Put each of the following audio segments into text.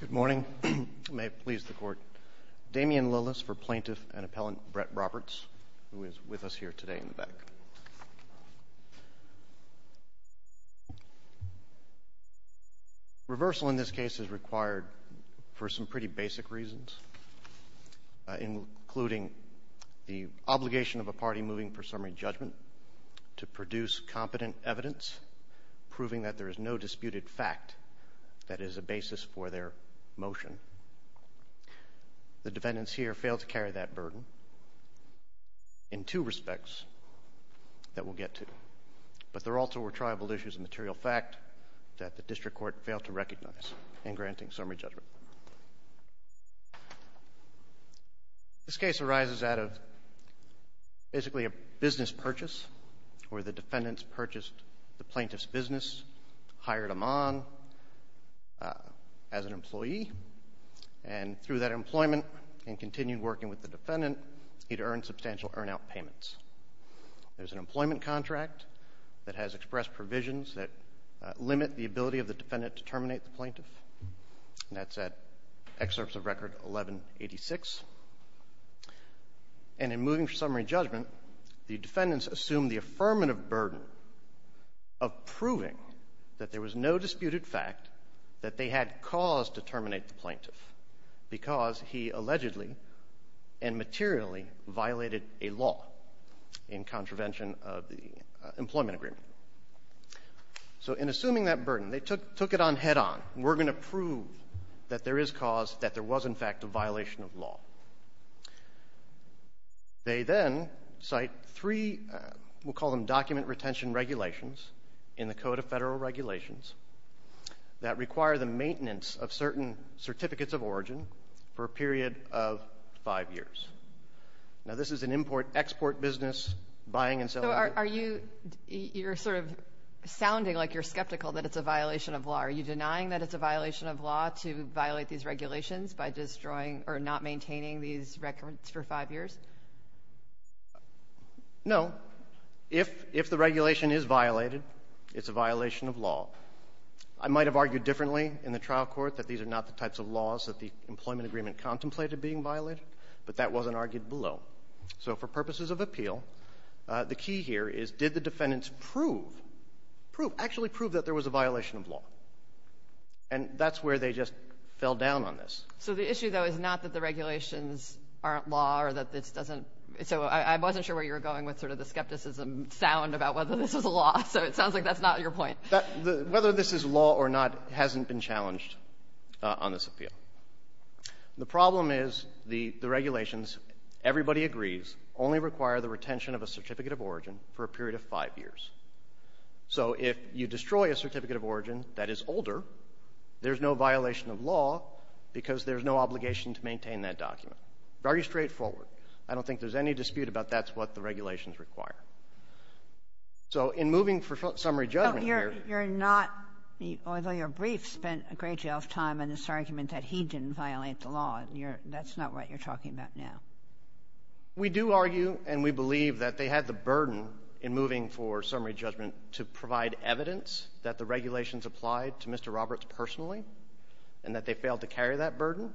Good morning. May it please the Court. Damian Lillis for Plaintiff and Appellant Brett Roberts, who is with us here today in the back. Reversal in this case is required for some pretty basic reasons, including the obligation of a party moving for summary judgment to produce competent evidence proving that there is no disputed fact that is a basis for their motion. The defendants here failed to carry that burden in two respects that we'll get to. But there also were tribal issues and material fact that the district court failed to recognize in granting summary judgment. This case arises out of basically a business purchase where the defendants purchased the plaintiff's business, hired him on as an employee, and through that employment and continued working with the defendant, he'd earned substantial earn-out payments. There's an employment contract that has expressed provisions that limit the ability of the defendant to terminate the plaintiff, and that's at excerpts of Record 1186. And in moving for summary judgment, the defendants assumed the affirmative burden of proving that there was no disputed fact that they had cause to terminate the plaintiff because he allegedly and materially violated a law in contravention of the employment agreement. So in assuming that burden, they took it on head-on. We're going to prove that there is cause that there was, in fact, a violation of law. They then cite three, we'll call them document retention regulations in the Code of Federal Regulations that require the maintenance of certain certificates of origin for a period of five years. Now, this is an import-export business, buying and selling. So are you you're sort of sounding like you're skeptical that it's a violation of law. Are you denying that it's a violation of law to violate these regulations by destroying or not maintaining these records for five years? No. If the regulation is violated, it's a violation of law. I might have argued differently in the trial court that these are not the types of laws that the employment agreement contemplated being violated, but that wasn't argued below. So for purposes of appeal, the key here is did the defendants prove, prove, actually prove that there was a violation of law. And that's where they just fell down on this. So the issue, though, is not that the regulations aren't law or that this doesn't so I wasn't sure where you were going with sort of the skepticism sound about whether this was a law. So it sounds like that's not your point. Whether this is law or not hasn't been challenged on this appeal. The problem is the regulations, everybody agrees, only require the retention of a certificate of origin for a period of five years. So if you destroy a certificate of origin that is older, there's no violation of law because there's no obligation to maintain that document. Very straightforward. I don't think there's any dispute about that's what the regulations require. So in moving for summary judgment here. You're not, although your brief spent a great deal of time on this argument that he didn't violate the law. And you're, that's not what you're talking about now. We do argue and we believe that they had the burden in moving for summary judgment to provide evidence that the regulations applied to Mr. Roberts personally and that they failed to carry that burden.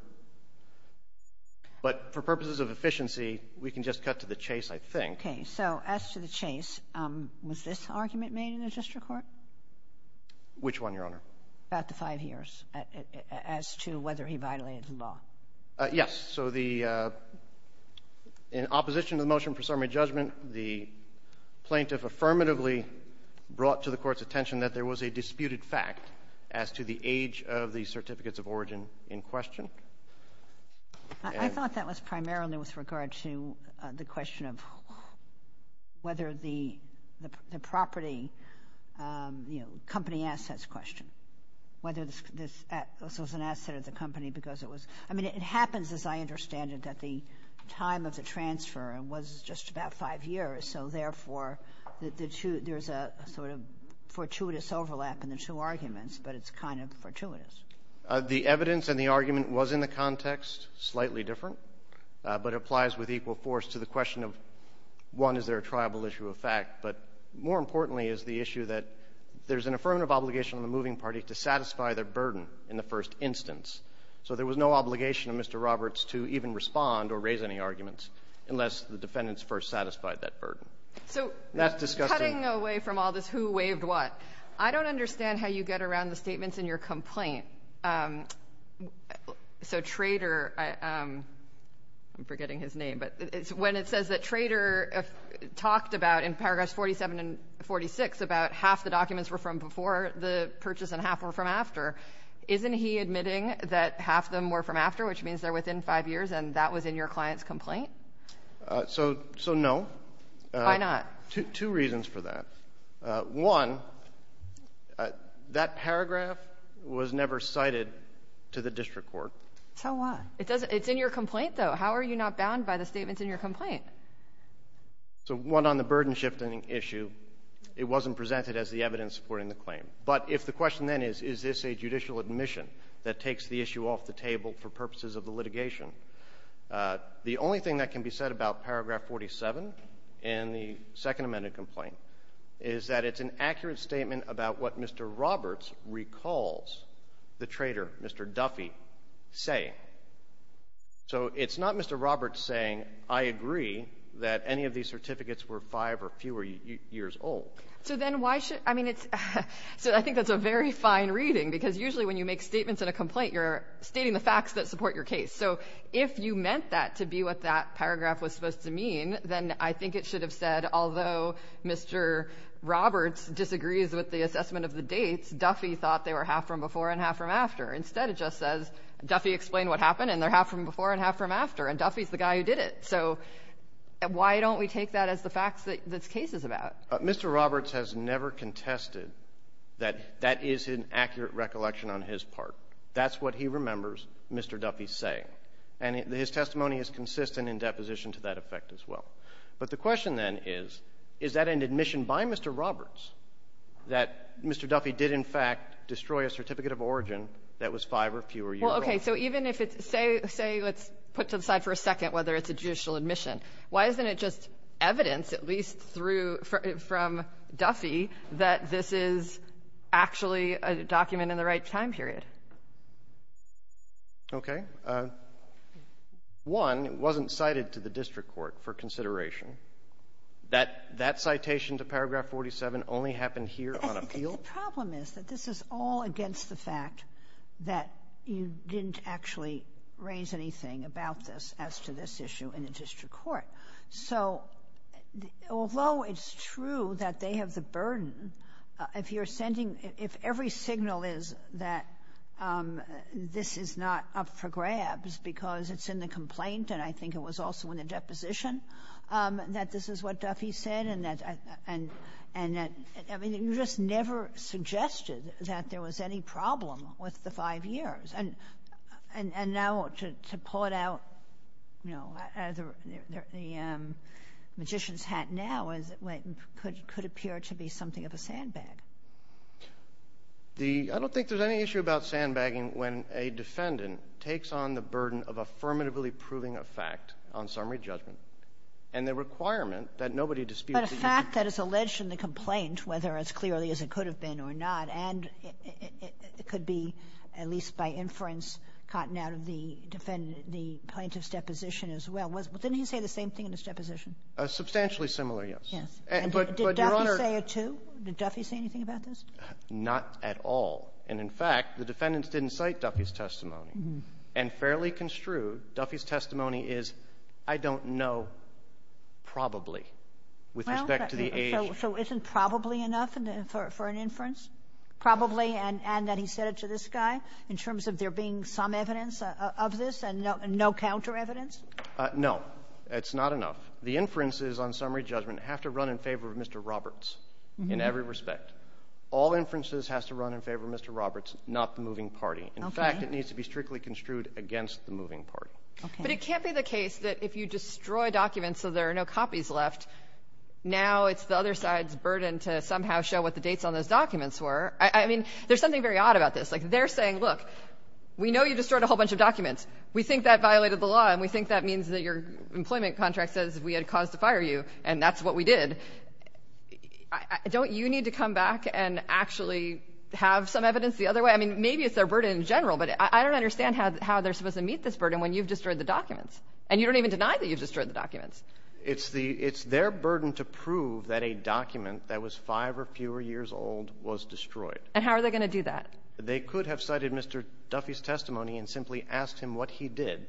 But for purposes of efficiency, we can just cut to the chase, I think. Okay. So as to the chase, was this argument made in the district court? Which one, Your Honor? About the five years as to whether he violated the law. Yes. So the, in opposition to the motion for summary judgment, the plaintiff affirmatively brought to the Court's attention that there was a disputed fact as to the age of the certificates of origin in question. I thought that was primarily with regard to the question of whether the property you know, company assets question, whether this was an asset of the company because it was, I mean, it happens as I understand it that the time of the transfer was just about five years. So therefore, the two, there's a sort of fortuitous overlap in the two arguments, but it's kind of fortuitous. The evidence and the argument was in the context slightly different, but it applies with equal force to the question of, one, is there a triable issue of fact, but more importantly is the issue that there's an affirmative obligation on the moving party to satisfy their burden in the first instance. So there was no obligation of Mr. Roberts to even respond or raise any arguments unless the defendants first satisfied that burden. So cutting away from all this who waived what, I don't understand how you get around the statements in your complaint. So Trader, I'm forgetting his name, but when it says that Trader talked about in paragraphs 47 and 46 about half the documents were from before the purchase and half were from after, isn't he admitting that half of them were from after, which means they're within five years and that was in your client's complaint? So no. Why not? Two reasons for that. One, that paragraph was never cited to the district court. So what? It's in your complaint, though. How are you not bound by the statements in your complaint? So one, on the burden-shifting issue, it wasn't presented as the evidence supporting the claim. But if the question then is, is this a judicial admission that takes the issue off the table for purposes of the litigation, the only thing that can be said about paragraph 47 in the Second Amendment complaint is that it's an accurate statement about what Mr. Roberts recalls the Trader, Mr. Duffy, saying. So it's not Mr. Roberts saying, I agree that any of these certificates were five or fewer years old. So then why should — I mean, it's — so I think that's a very fine reading, because usually when you make statements in a complaint, you're stating the facts that support your case. So if you meant that to be what that paragraph was supposed to mean, then I think it should have said, although Mr. Roberts disagrees with the assessment of the dates, Duffy thought they were half from before and half from after. Instead, it just says, Duffy explained what happened, and they're half from before and half from after. And Duffy's the guy who did it. So why don't we take that as the facts that this case is about? Mr. Roberts has never contested that that is an accurate recollection on his part. That's what he remembers Mr. Duffy saying. And his testimony is consistent in deposition to that effect as well. But the question, then, is, is that an admission by Mr. Roberts that Mr. Duffy did, in fact, destroy a certificate of origin that was five or fewer years old? Well, okay. So even if it's — say — say, let's put aside for a second whether it's a judicial admission. Why isn't it just evidence, at least through — from Duffy, that this is actually a document in the right time period? Okay. One, it wasn't cited to the district court for consideration. That — that citation to paragraph 47 only happened here on appeal? The problem is that this is all against the fact that you didn't actually raise anything about this as to this issue in the district court. So although it's true that they have the burden, if you're sending — if every signal is that this is not up for grabs because it's in the complaint, and I think it was also in the deposition, that this is what Duffy said and that — and that — I mean, you just never suggested that there was any problem with the five years. And — and now to — to put out, you know, the magician's hat now is — could appear to be something of a sandbag. The — I don't think there's any issue about sandbagging when a defendant takes on the burden of affirmatively proving a fact on summary judgment and the requirement that nobody disputes it. But a fact that is alleged in the complaint, whether as clearly as it could have been or not, and it could be at least by inference gotten out of the defendant — the plaintiff's deposition as well. Wasn't — didn't he say the same thing in his deposition? Substantially similar, yes. Yes. But, Your Honor — And did Duffy say it, too? Did Duffy say anything about this? Not at all. And, in fact, the defendants didn't cite Duffy's testimony. And fairly construed, Duffy's testimony is, I don't know, probably, with respect to the age. So isn't probably enough for an inference? Probably, and that he said it to this guy, in terms of there being some evidence of this and no counter-evidence? No. It's not enough. The inferences on summary judgment have to run in favor of Mr. Roberts in every respect. All inferences has to run in favor of Mr. Roberts, not the moving party. Okay. In fact, it needs to be strictly construed against the moving party. Okay. But it can't be the case that if you destroy documents so there are no copies left, now it's the other side's burden to somehow show what the dates on those documents were. I mean, there's something very odd about this. Like, they're saying, look, we know you destroyed a whole bunch of documents. We think that violated the law, and we think that means that your employment contract says we had a cause to fire you, and that's what we did. Don't you need to come back and actually have some evidence the other way? I mean, maybe it's their burden in general, but I don't understand how they're supposed to meet this burden when you've destroyed the documents, and you don't even deny that you've destroyed the documents. It's the — it's their burden to prove that a document that was 5 or fewer years old was destroyed. And how are they going to do that? They could have cited Mr. Duffy's testimony and simply asked him what he did.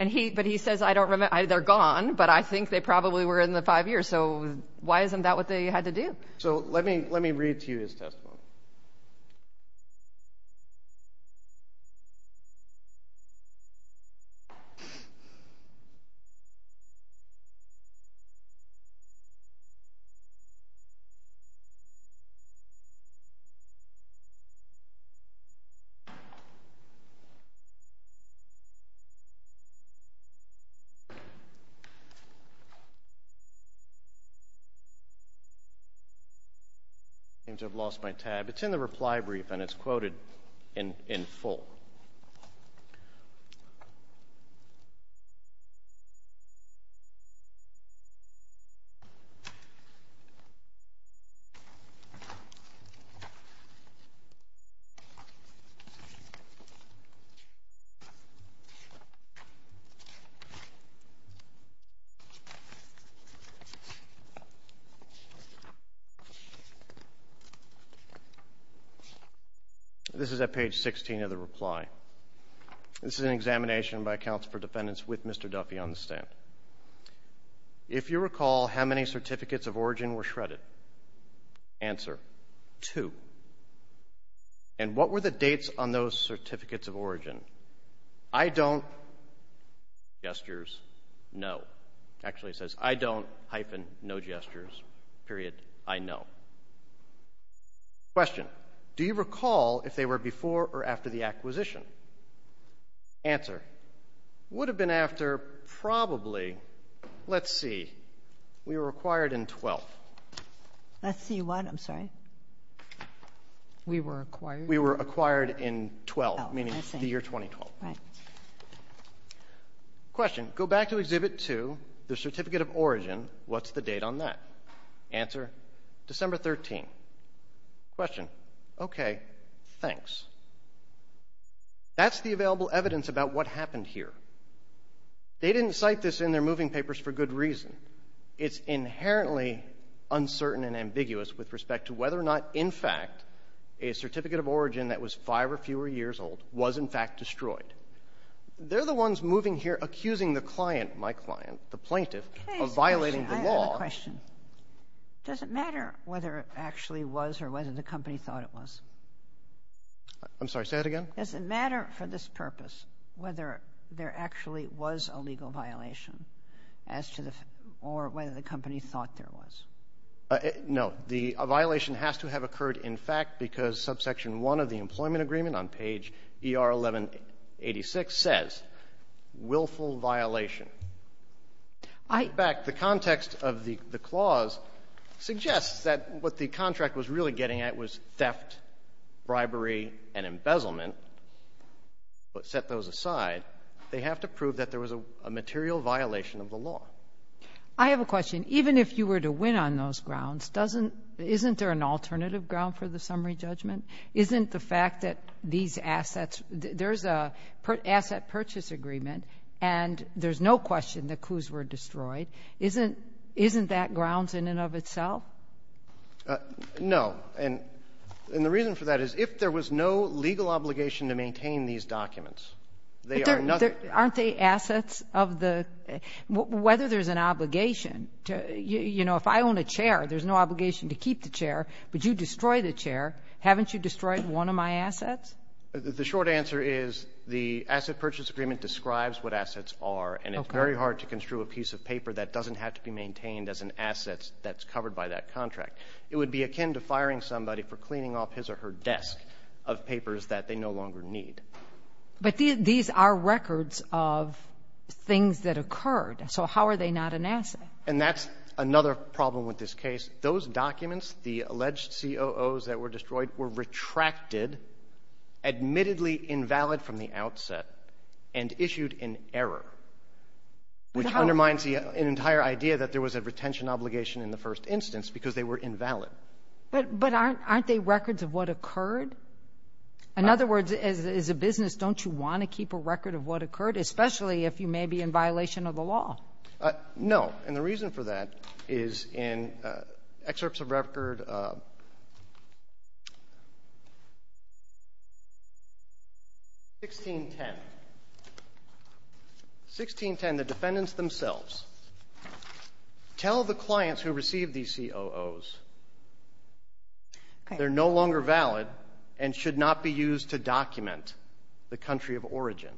And he — but he says, I don't remember. They're gone, but I think they probably were in the 5 years. So why isn't that what they had to do? So let me — let me read to you his testimony. Go ahead. I seem to have lost my tab. It's in the reply brief, and it's quoted in full. This is at page 16 of the reply. This is an examination by accounts for defendants with Mr. Duffy on the stand. If you recall, how many certificates of origin were shredded? Answer, two. And what were the dates on those certificates of origin? I don't — gestures, no. Actually, it says, I don't, hyphen, no gestures, period, I know. Question. Do you recall if they were before or after the acquisition? Answer. Would have been after probably — let's see. We were acquired in 12th. Let's see what? I'm sorry. We were acquired? We were acquired in 12th, meaning the year 2012. Right. Question. Go back to Exhibit 2, the certificate of origin. What's the date on that? Answer. December 13th. Question. Okay. Thanks. That's the available evidence about what happened here. They didn't cite this in their moving papers for good reason. It's inherently uncertain and ambiguous with respect to whether or not, in fact, a certificate of origin that was five or fewer years old was, in fact, destroyed. They're the ones moving here accusing the client, my client, the plaintiff, of violating the law. I have a question. Does it matter whether it actually was or whether the company thought it was? I'm sorry. Say that again. Does it matter for this purpose whether there actually was a legal violation as to the — or whether the company thought there was? No. The violation has to have occurred, in fact, because subsection 1 of the employment agreement on page ER1186 says, willful violation. I — In fact, the context of the clause suggests that what the contract was really getting at was theft, bribery, and embezzlement, but set those aside, they have to prove that there was a material violation of the law. I have a question. Even if you were to win on those grounds, doesn't — isn't there an alternative ground for the summary judgment? Isn't the fact that these assets — there's a asset purchase agreement, and there's no question the coups were destroyed. Isn't — isn't that grounds in and of itself? No. And the reason for that is if there was no legal obligation to maintain these documents, they are not — Aren't they assets of the — whether there's an obligation to — you know, if I own a chair, there's no obligation to keep the chair, but you destroy the chair, haven't you destroyed one of my assets? The short answer is the asset purchase agreement describes what assets are, and it's very hard to construe a piece of paper that doesn't have to be maintained as an asset that's covered by that contract. It would be akin to firing somebody for cleaning off his or her desk of papers that they no longer need. But these are records of things that occurred, so how are they not an asset? And that's another problem with this case. Those documents, the alleged COOs that were destroyed, were retracted, admittedly invalid from the outset, and issued in error, which undermines the entire idea that there was a retention obligation in the first instance because they were invalid. But aren't they records of what occurred? In other words, as a business, don't you want to keep a record of what occurred, especially if you may be in violation of the law? No. And the reason for that is in excerpts of record 1610. 1610, the defendants themselves tell the clients who received these COOs they're no longer valid and should not be used to document the country of origin.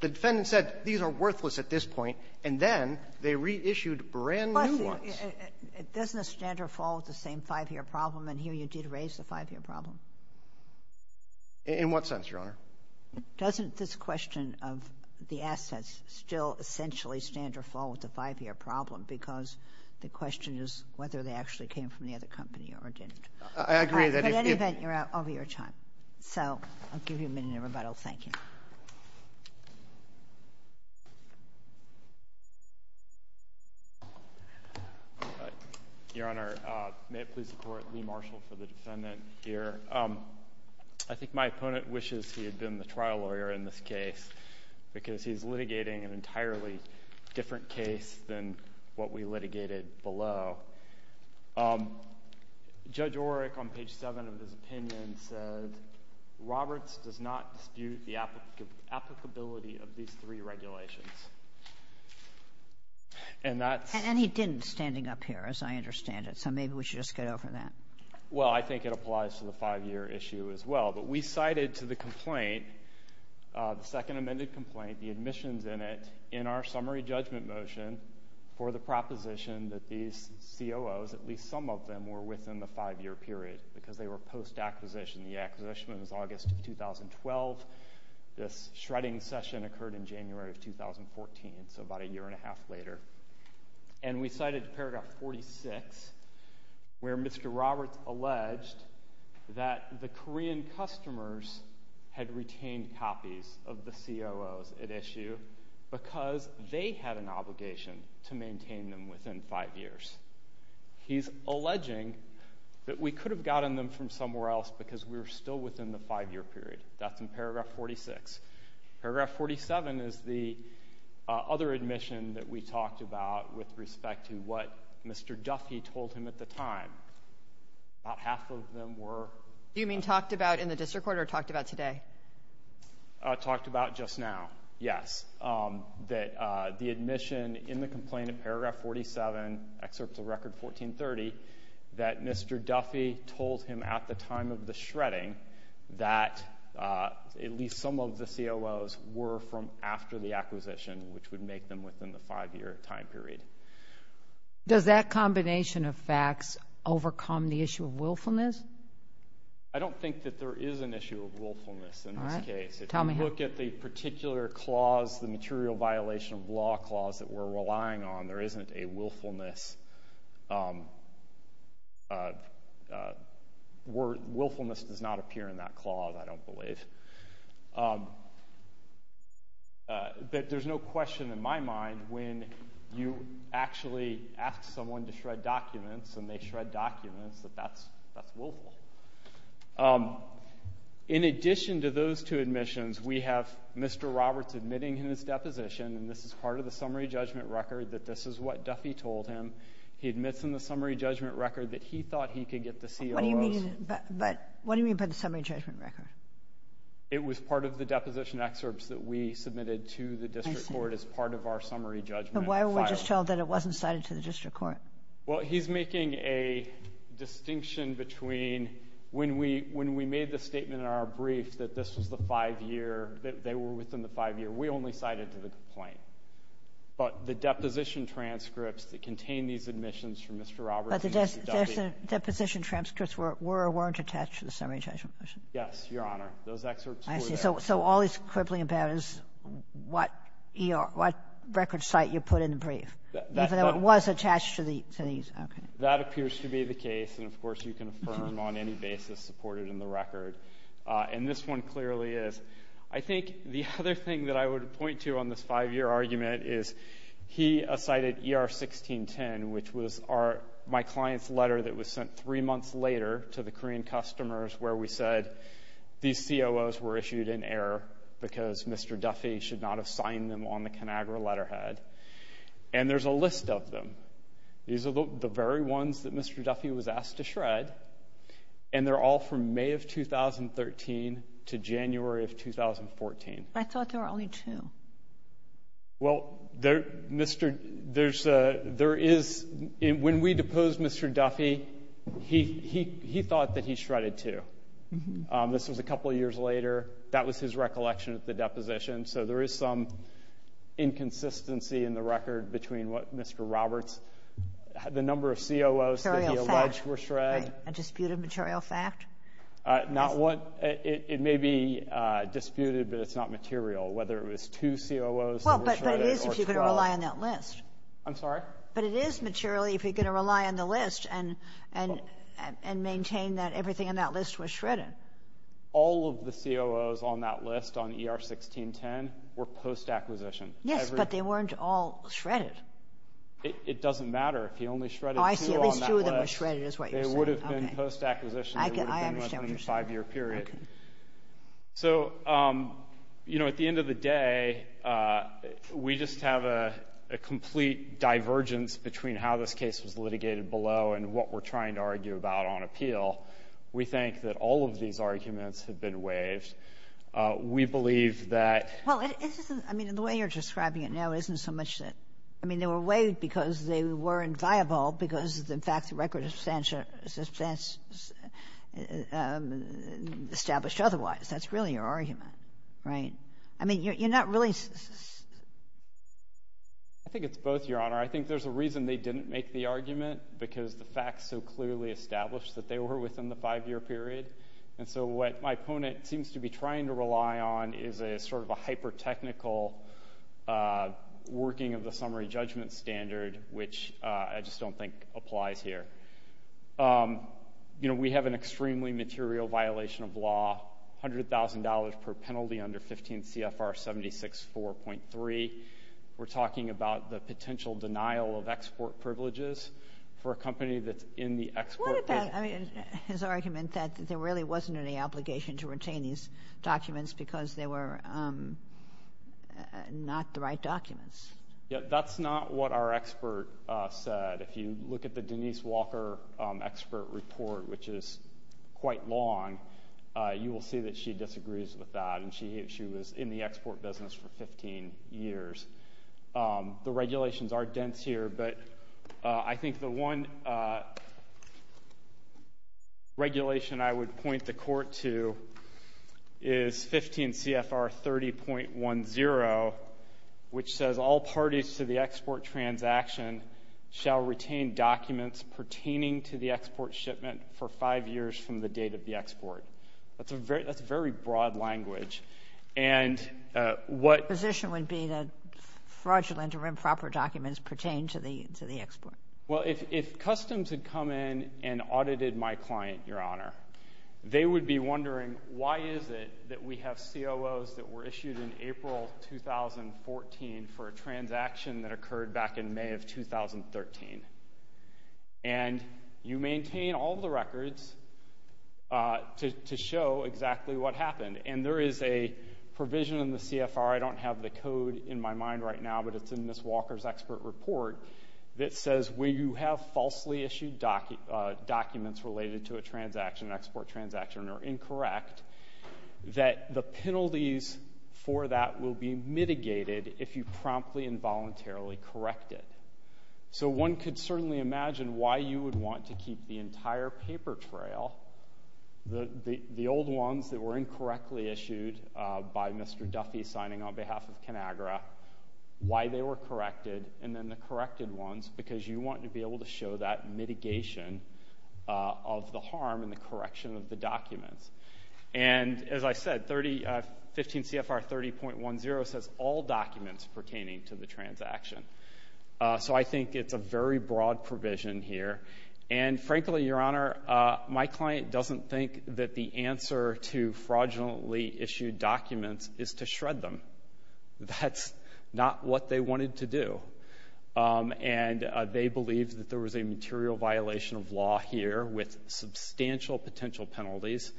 The defendant said these are worthless at this point, and then they reissued brand-new ones. But it doesn't stand or fall with the same five-year problem. And here you did raise the five-year problem. In what sense, Your Honor? Doesn't this question of the assets still essentially stand or fall with the five-year problem? Because the question is whether they actually came from the other company or didn't. I agree that if you're out over your time. So I'll give you a minute, everybody. Well, thank you. Your Honor, may it please the Court, Lee Marshall for the defendant here. I think my opponent wishes he had been the trial lawyer in this case because he's litigating an entirely different case than what we litigated below. Judge Oreck, on page 7 of his opinion, said Roberts does not dispute the applicability of these three regulations. And he didn't, standing up here, as I understand it. So maybe we should just get over that. Well, I think it applies to the five-year issue as well. But we cited to the complaint, the second amended complaint, the admissions in it, in our summary judgment motion for the proposition that these COOs, at least some of them, were within the five-year period because they were post-acquisition. The acquisition was August of 2012. This shredding session occurred in January of 2014, so about a year and a half later. And we cited paragraph 46 where Mr. Roberts alleged that the Korean customers had retained copies of the COOs at issue because they had an obligation to maintain them within five years. He's alleging that we could have gotten them from somewhere else because we were still within the five-year period. That's in paragraph 46. Paragraph 47 is the other admission that we talked about with respect to what Mr. Duffy told him at the time. About half of them were — Talked about just now, yes. That the admission in the complaint in paragraph 47, excerpt of record 1430, that Mr. Duffy told him at the time of the shredding that at least some of the COOs were from after the acquisition, which would make them within the five-year time period. Does that combination of facts overcome the issue of willfulness? I don't think that there is an issue of willfulness in this case. All right. Tell me how — If you look at the particular clause, the material violation of law clause that we're relying on, there isn't a willfulness. Willfulness does not appear in that clause, I don't believe. But there's no question in my mind when you actually ask someone to shred documents and they shred documents that that's — that's willful. In addition to those two admissions, we have Mr. Roberts admitting in his deposition, and this is part of the summary judgment record, that this is what Duffy told him. He admits in the summary judgment record that he thought he could get the COOs — What do you mean by — what do you mean by the summary judgment record? It was part of the deposition excerpts that we submitted to the district court as part of our summary judgment file. But why were we just told that it wasn't cited to the district court? Well, he's making a distinction between when we — when we made the statement in our brief that this was the five-year, that they were within the five-year, we only cited to the complaint. But the deposition transcripts that contain these admissions from Mr. Roberts and Mr. Duffy — But the deposition transcripts were or weren't attached to the summary judgment motion. Yes, Your Honor. Those excerpts were there. I see. So all he's quibbling about is what E.R. — what record site you put in the brief, even though it was attached to the — to these. Okay. That appears to be the case. And, of course, you can affirm on any basis supported in the record. And this one clearly is. I think the other thing that I would point to on this five-year argument is he cited E.R. 1610, which was our — my client's letter that was sent three months later to the Korean customers where we said these COOs were issued in error because Mr. Duffy should not have signed them on the ConAgra letterhead. And there's a list of them. These are the very ones that Mr. Duffy was asked to shred. And they're all from May of 2013 to January of 2014. I thought there were only two. Well, there — Mr. — there's a — there is — when we deposed Mr. Duffy, he thought that he shredded two. This was a couple years later. That was his recollection of the deposition. So there is some inconsistency in the record between what Mr. Roberts — the number of COOs that he alleged were shred. Material fact. Right. A disputed material fact? Not what — it may be disputed, but it's not material. Whether it was two COOs that were shredded or 12. Well, but it is if you're going to rely on that list. I'm sorry? But it is materially if you're going to rely on the list and maintain that everything on that list was shredded. All of the COOs on that list on ER 1610 were post-acquisition. Yes, but they weren't all shredded. It doesn't matter. If he only shredded two on that list — Oh, I see. At least two of them were shredded is what you're saying. They would have been post-acquisition. I understand what you're saying. They would have been within a five-year period. Okay. So, you know, at the end of the day, we just have a complete divergence between how this case was litigated below and what we're trying to argue about on appeal. We think that all of these arguments have been waived. We believe that — Well, it isn't — I mean, the way you're describing it now isn't so much that — I mean, they were waived because they weren't viable because, in fact, the record is substantial — established otherwise. That's really your argument, right? I mean, you're not really — I think it's both, Your Honor. I think there's a reason they didn't make the argument, because the facts so clearly established that they were within the five-year period. And so what my opponent seems to be trying to rely on is a sort of a hyper-technical working of the summary judgment standard, which I just don't think applies here. You know, we have an extremely material violation of law, $100,000 per penalty under 15 CFR 76.4.3. We're talking about the potential denial of export privileges for a company that's in the export — What about his argument that there really wasn't any obligation to retain these documents because they were not the right documents? That's not what our expert said. If you look at the Denise Walker expert report, which is quite long, you will see that she disagrees with that, and she was in the export business for 15 years. The regulations are dense here, but I think the one regulation I would point the court to is 15 CFR 30.10, which says, All parties to the export transaction shall retain documents pertaining to the export shipment for five years from the date of the export. That's very broad language. And what — The position would be that fraudulent or improper documents pertain to the export. Well, if customs had come in and audited my client, Your Honor, they would be wondering, Why is it that we have COOs that were issued in April 2014 for a transaction that occurred back in May of 2013? And you maintain all the records to show exactly what happened. And there is a provision in the CFR — I don't have the code in my mind right now, but it's in Ms. Walker's expert report — that it says when you have falsely issued documents related to a transaction, an export transaction, or incorrect, that the penalties for that will be mitigated if you promptly and voluntarily correct it. So one could certainly imagine why you would want to keep the entire paper trail, the old ones that were incorrectly issued by Mr. Duffy signing on behalf of ConAgra, why they were corrected, and then the corrected ones, because you want to be able to show that mitigation of the harm and the correction of the documents. And as I said, 15 CFR 30.10 says all documents pertaining to the transaction. So I think it's a very broad provision here. And frankly, Your Honor, my client doesn't think that the answer to fraudulently issued documents is to shred them. That's not what they wanted to do. And they believe that there was a material violation of law here with substantial potential penalties.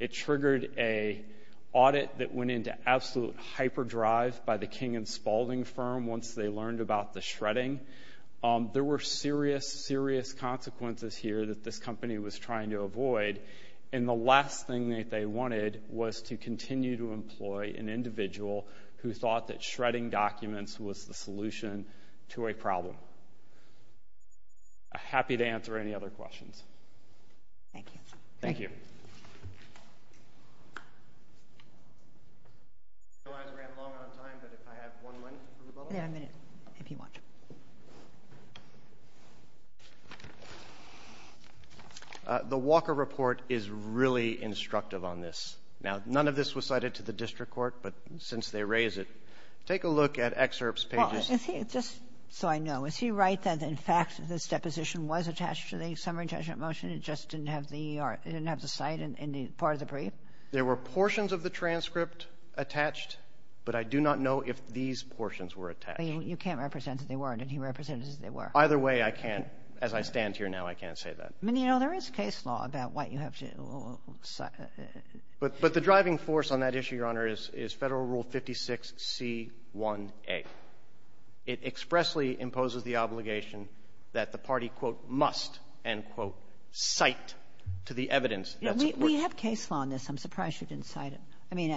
It triggered an audit that went into absolute hyperdrive by the King & Spalding firm once they learned about the shredding. There were serious, serious consequences here that this company was trying to avoid. And the last thing that they wanted was to continue to employ an individual who thought that shredding documents was the solution to a problem. I'm happy to answer any other questions. Thank you. Thank you. I realize we ran long on time, but if I have one minute for rebuttal. You have a minute, if you want. The Walker report is really instructive on this. Now, none of this was cited to the district court, but since they raise it, take a look at excerpts, pages. Well, is he, just so I know, is he right that, in fact, this deposition was attached to the summary judgment motion, and it just didn't have the art, it didn't have the cite in the part of the brief? There were portions of the transcript attached, but I do not know if these portions were attached. You can't represent that they weren't, and he represented that they were. Either way, I can't. As I stand here now, I can't say that. I mean, you know, there is case law about what you have to cite. But the driving force on that issue, Your Honor, is Federal Rule 56c1a. It expressly imposes the obligation that the party, quote, must, end quote, cite to the evidence that supports it. Kagan. We have case law on this. I'm surprised you didn't cite it. I mean,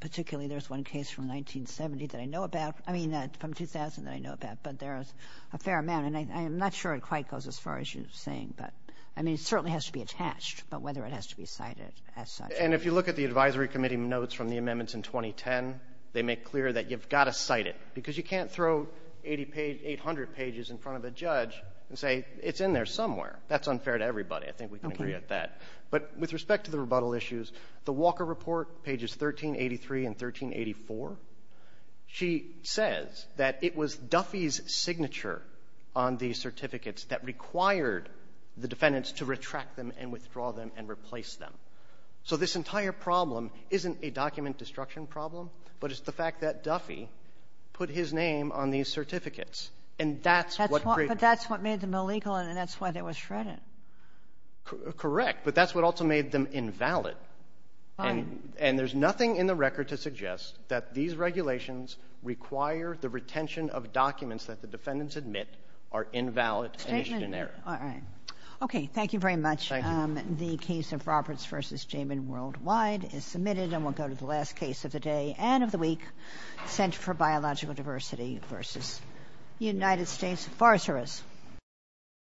particularly there's one case from 1970 that I know about, I mean, from 2000 that I know about, but there's a fair amount. And I'm not sure it quite goes as far as you're saying, but, I mean, it certainly has to be attached, but whether it has to be cited as such. And if you look at the advisory committee notes from the amendments in 2010, they make clear that you've got to cite it, because you can't throw 80 page 800 pages in front of a judge and say it's in there somewhere. That's unfair to everybody. I think we can agree at that. But with respect to the rebuttal issues, the Walker Report, pages 1383 and 1384, she says that it was Duffy's signature on the certificates that required the defendants to retract them and withdraw them and replace them. So this entire problem isn't a document destruction problem, but it's the fact that Duffy put his name on these certificates. And that's what created the problem. But that's what made them illegal, and that's why they were shredded. Correct. But that's what also made them invalid. And there's nothing in the record to suggest that these regulations require the retention of documents that the defendants admit are invalid and misdemeanor. All right. Thank you very much. Thank you. The case of Roberts v. Jamin worldwide is submitted. And we'll go to the last case of the day and of the week, Center for Biological Diversity v. United States Forrester's.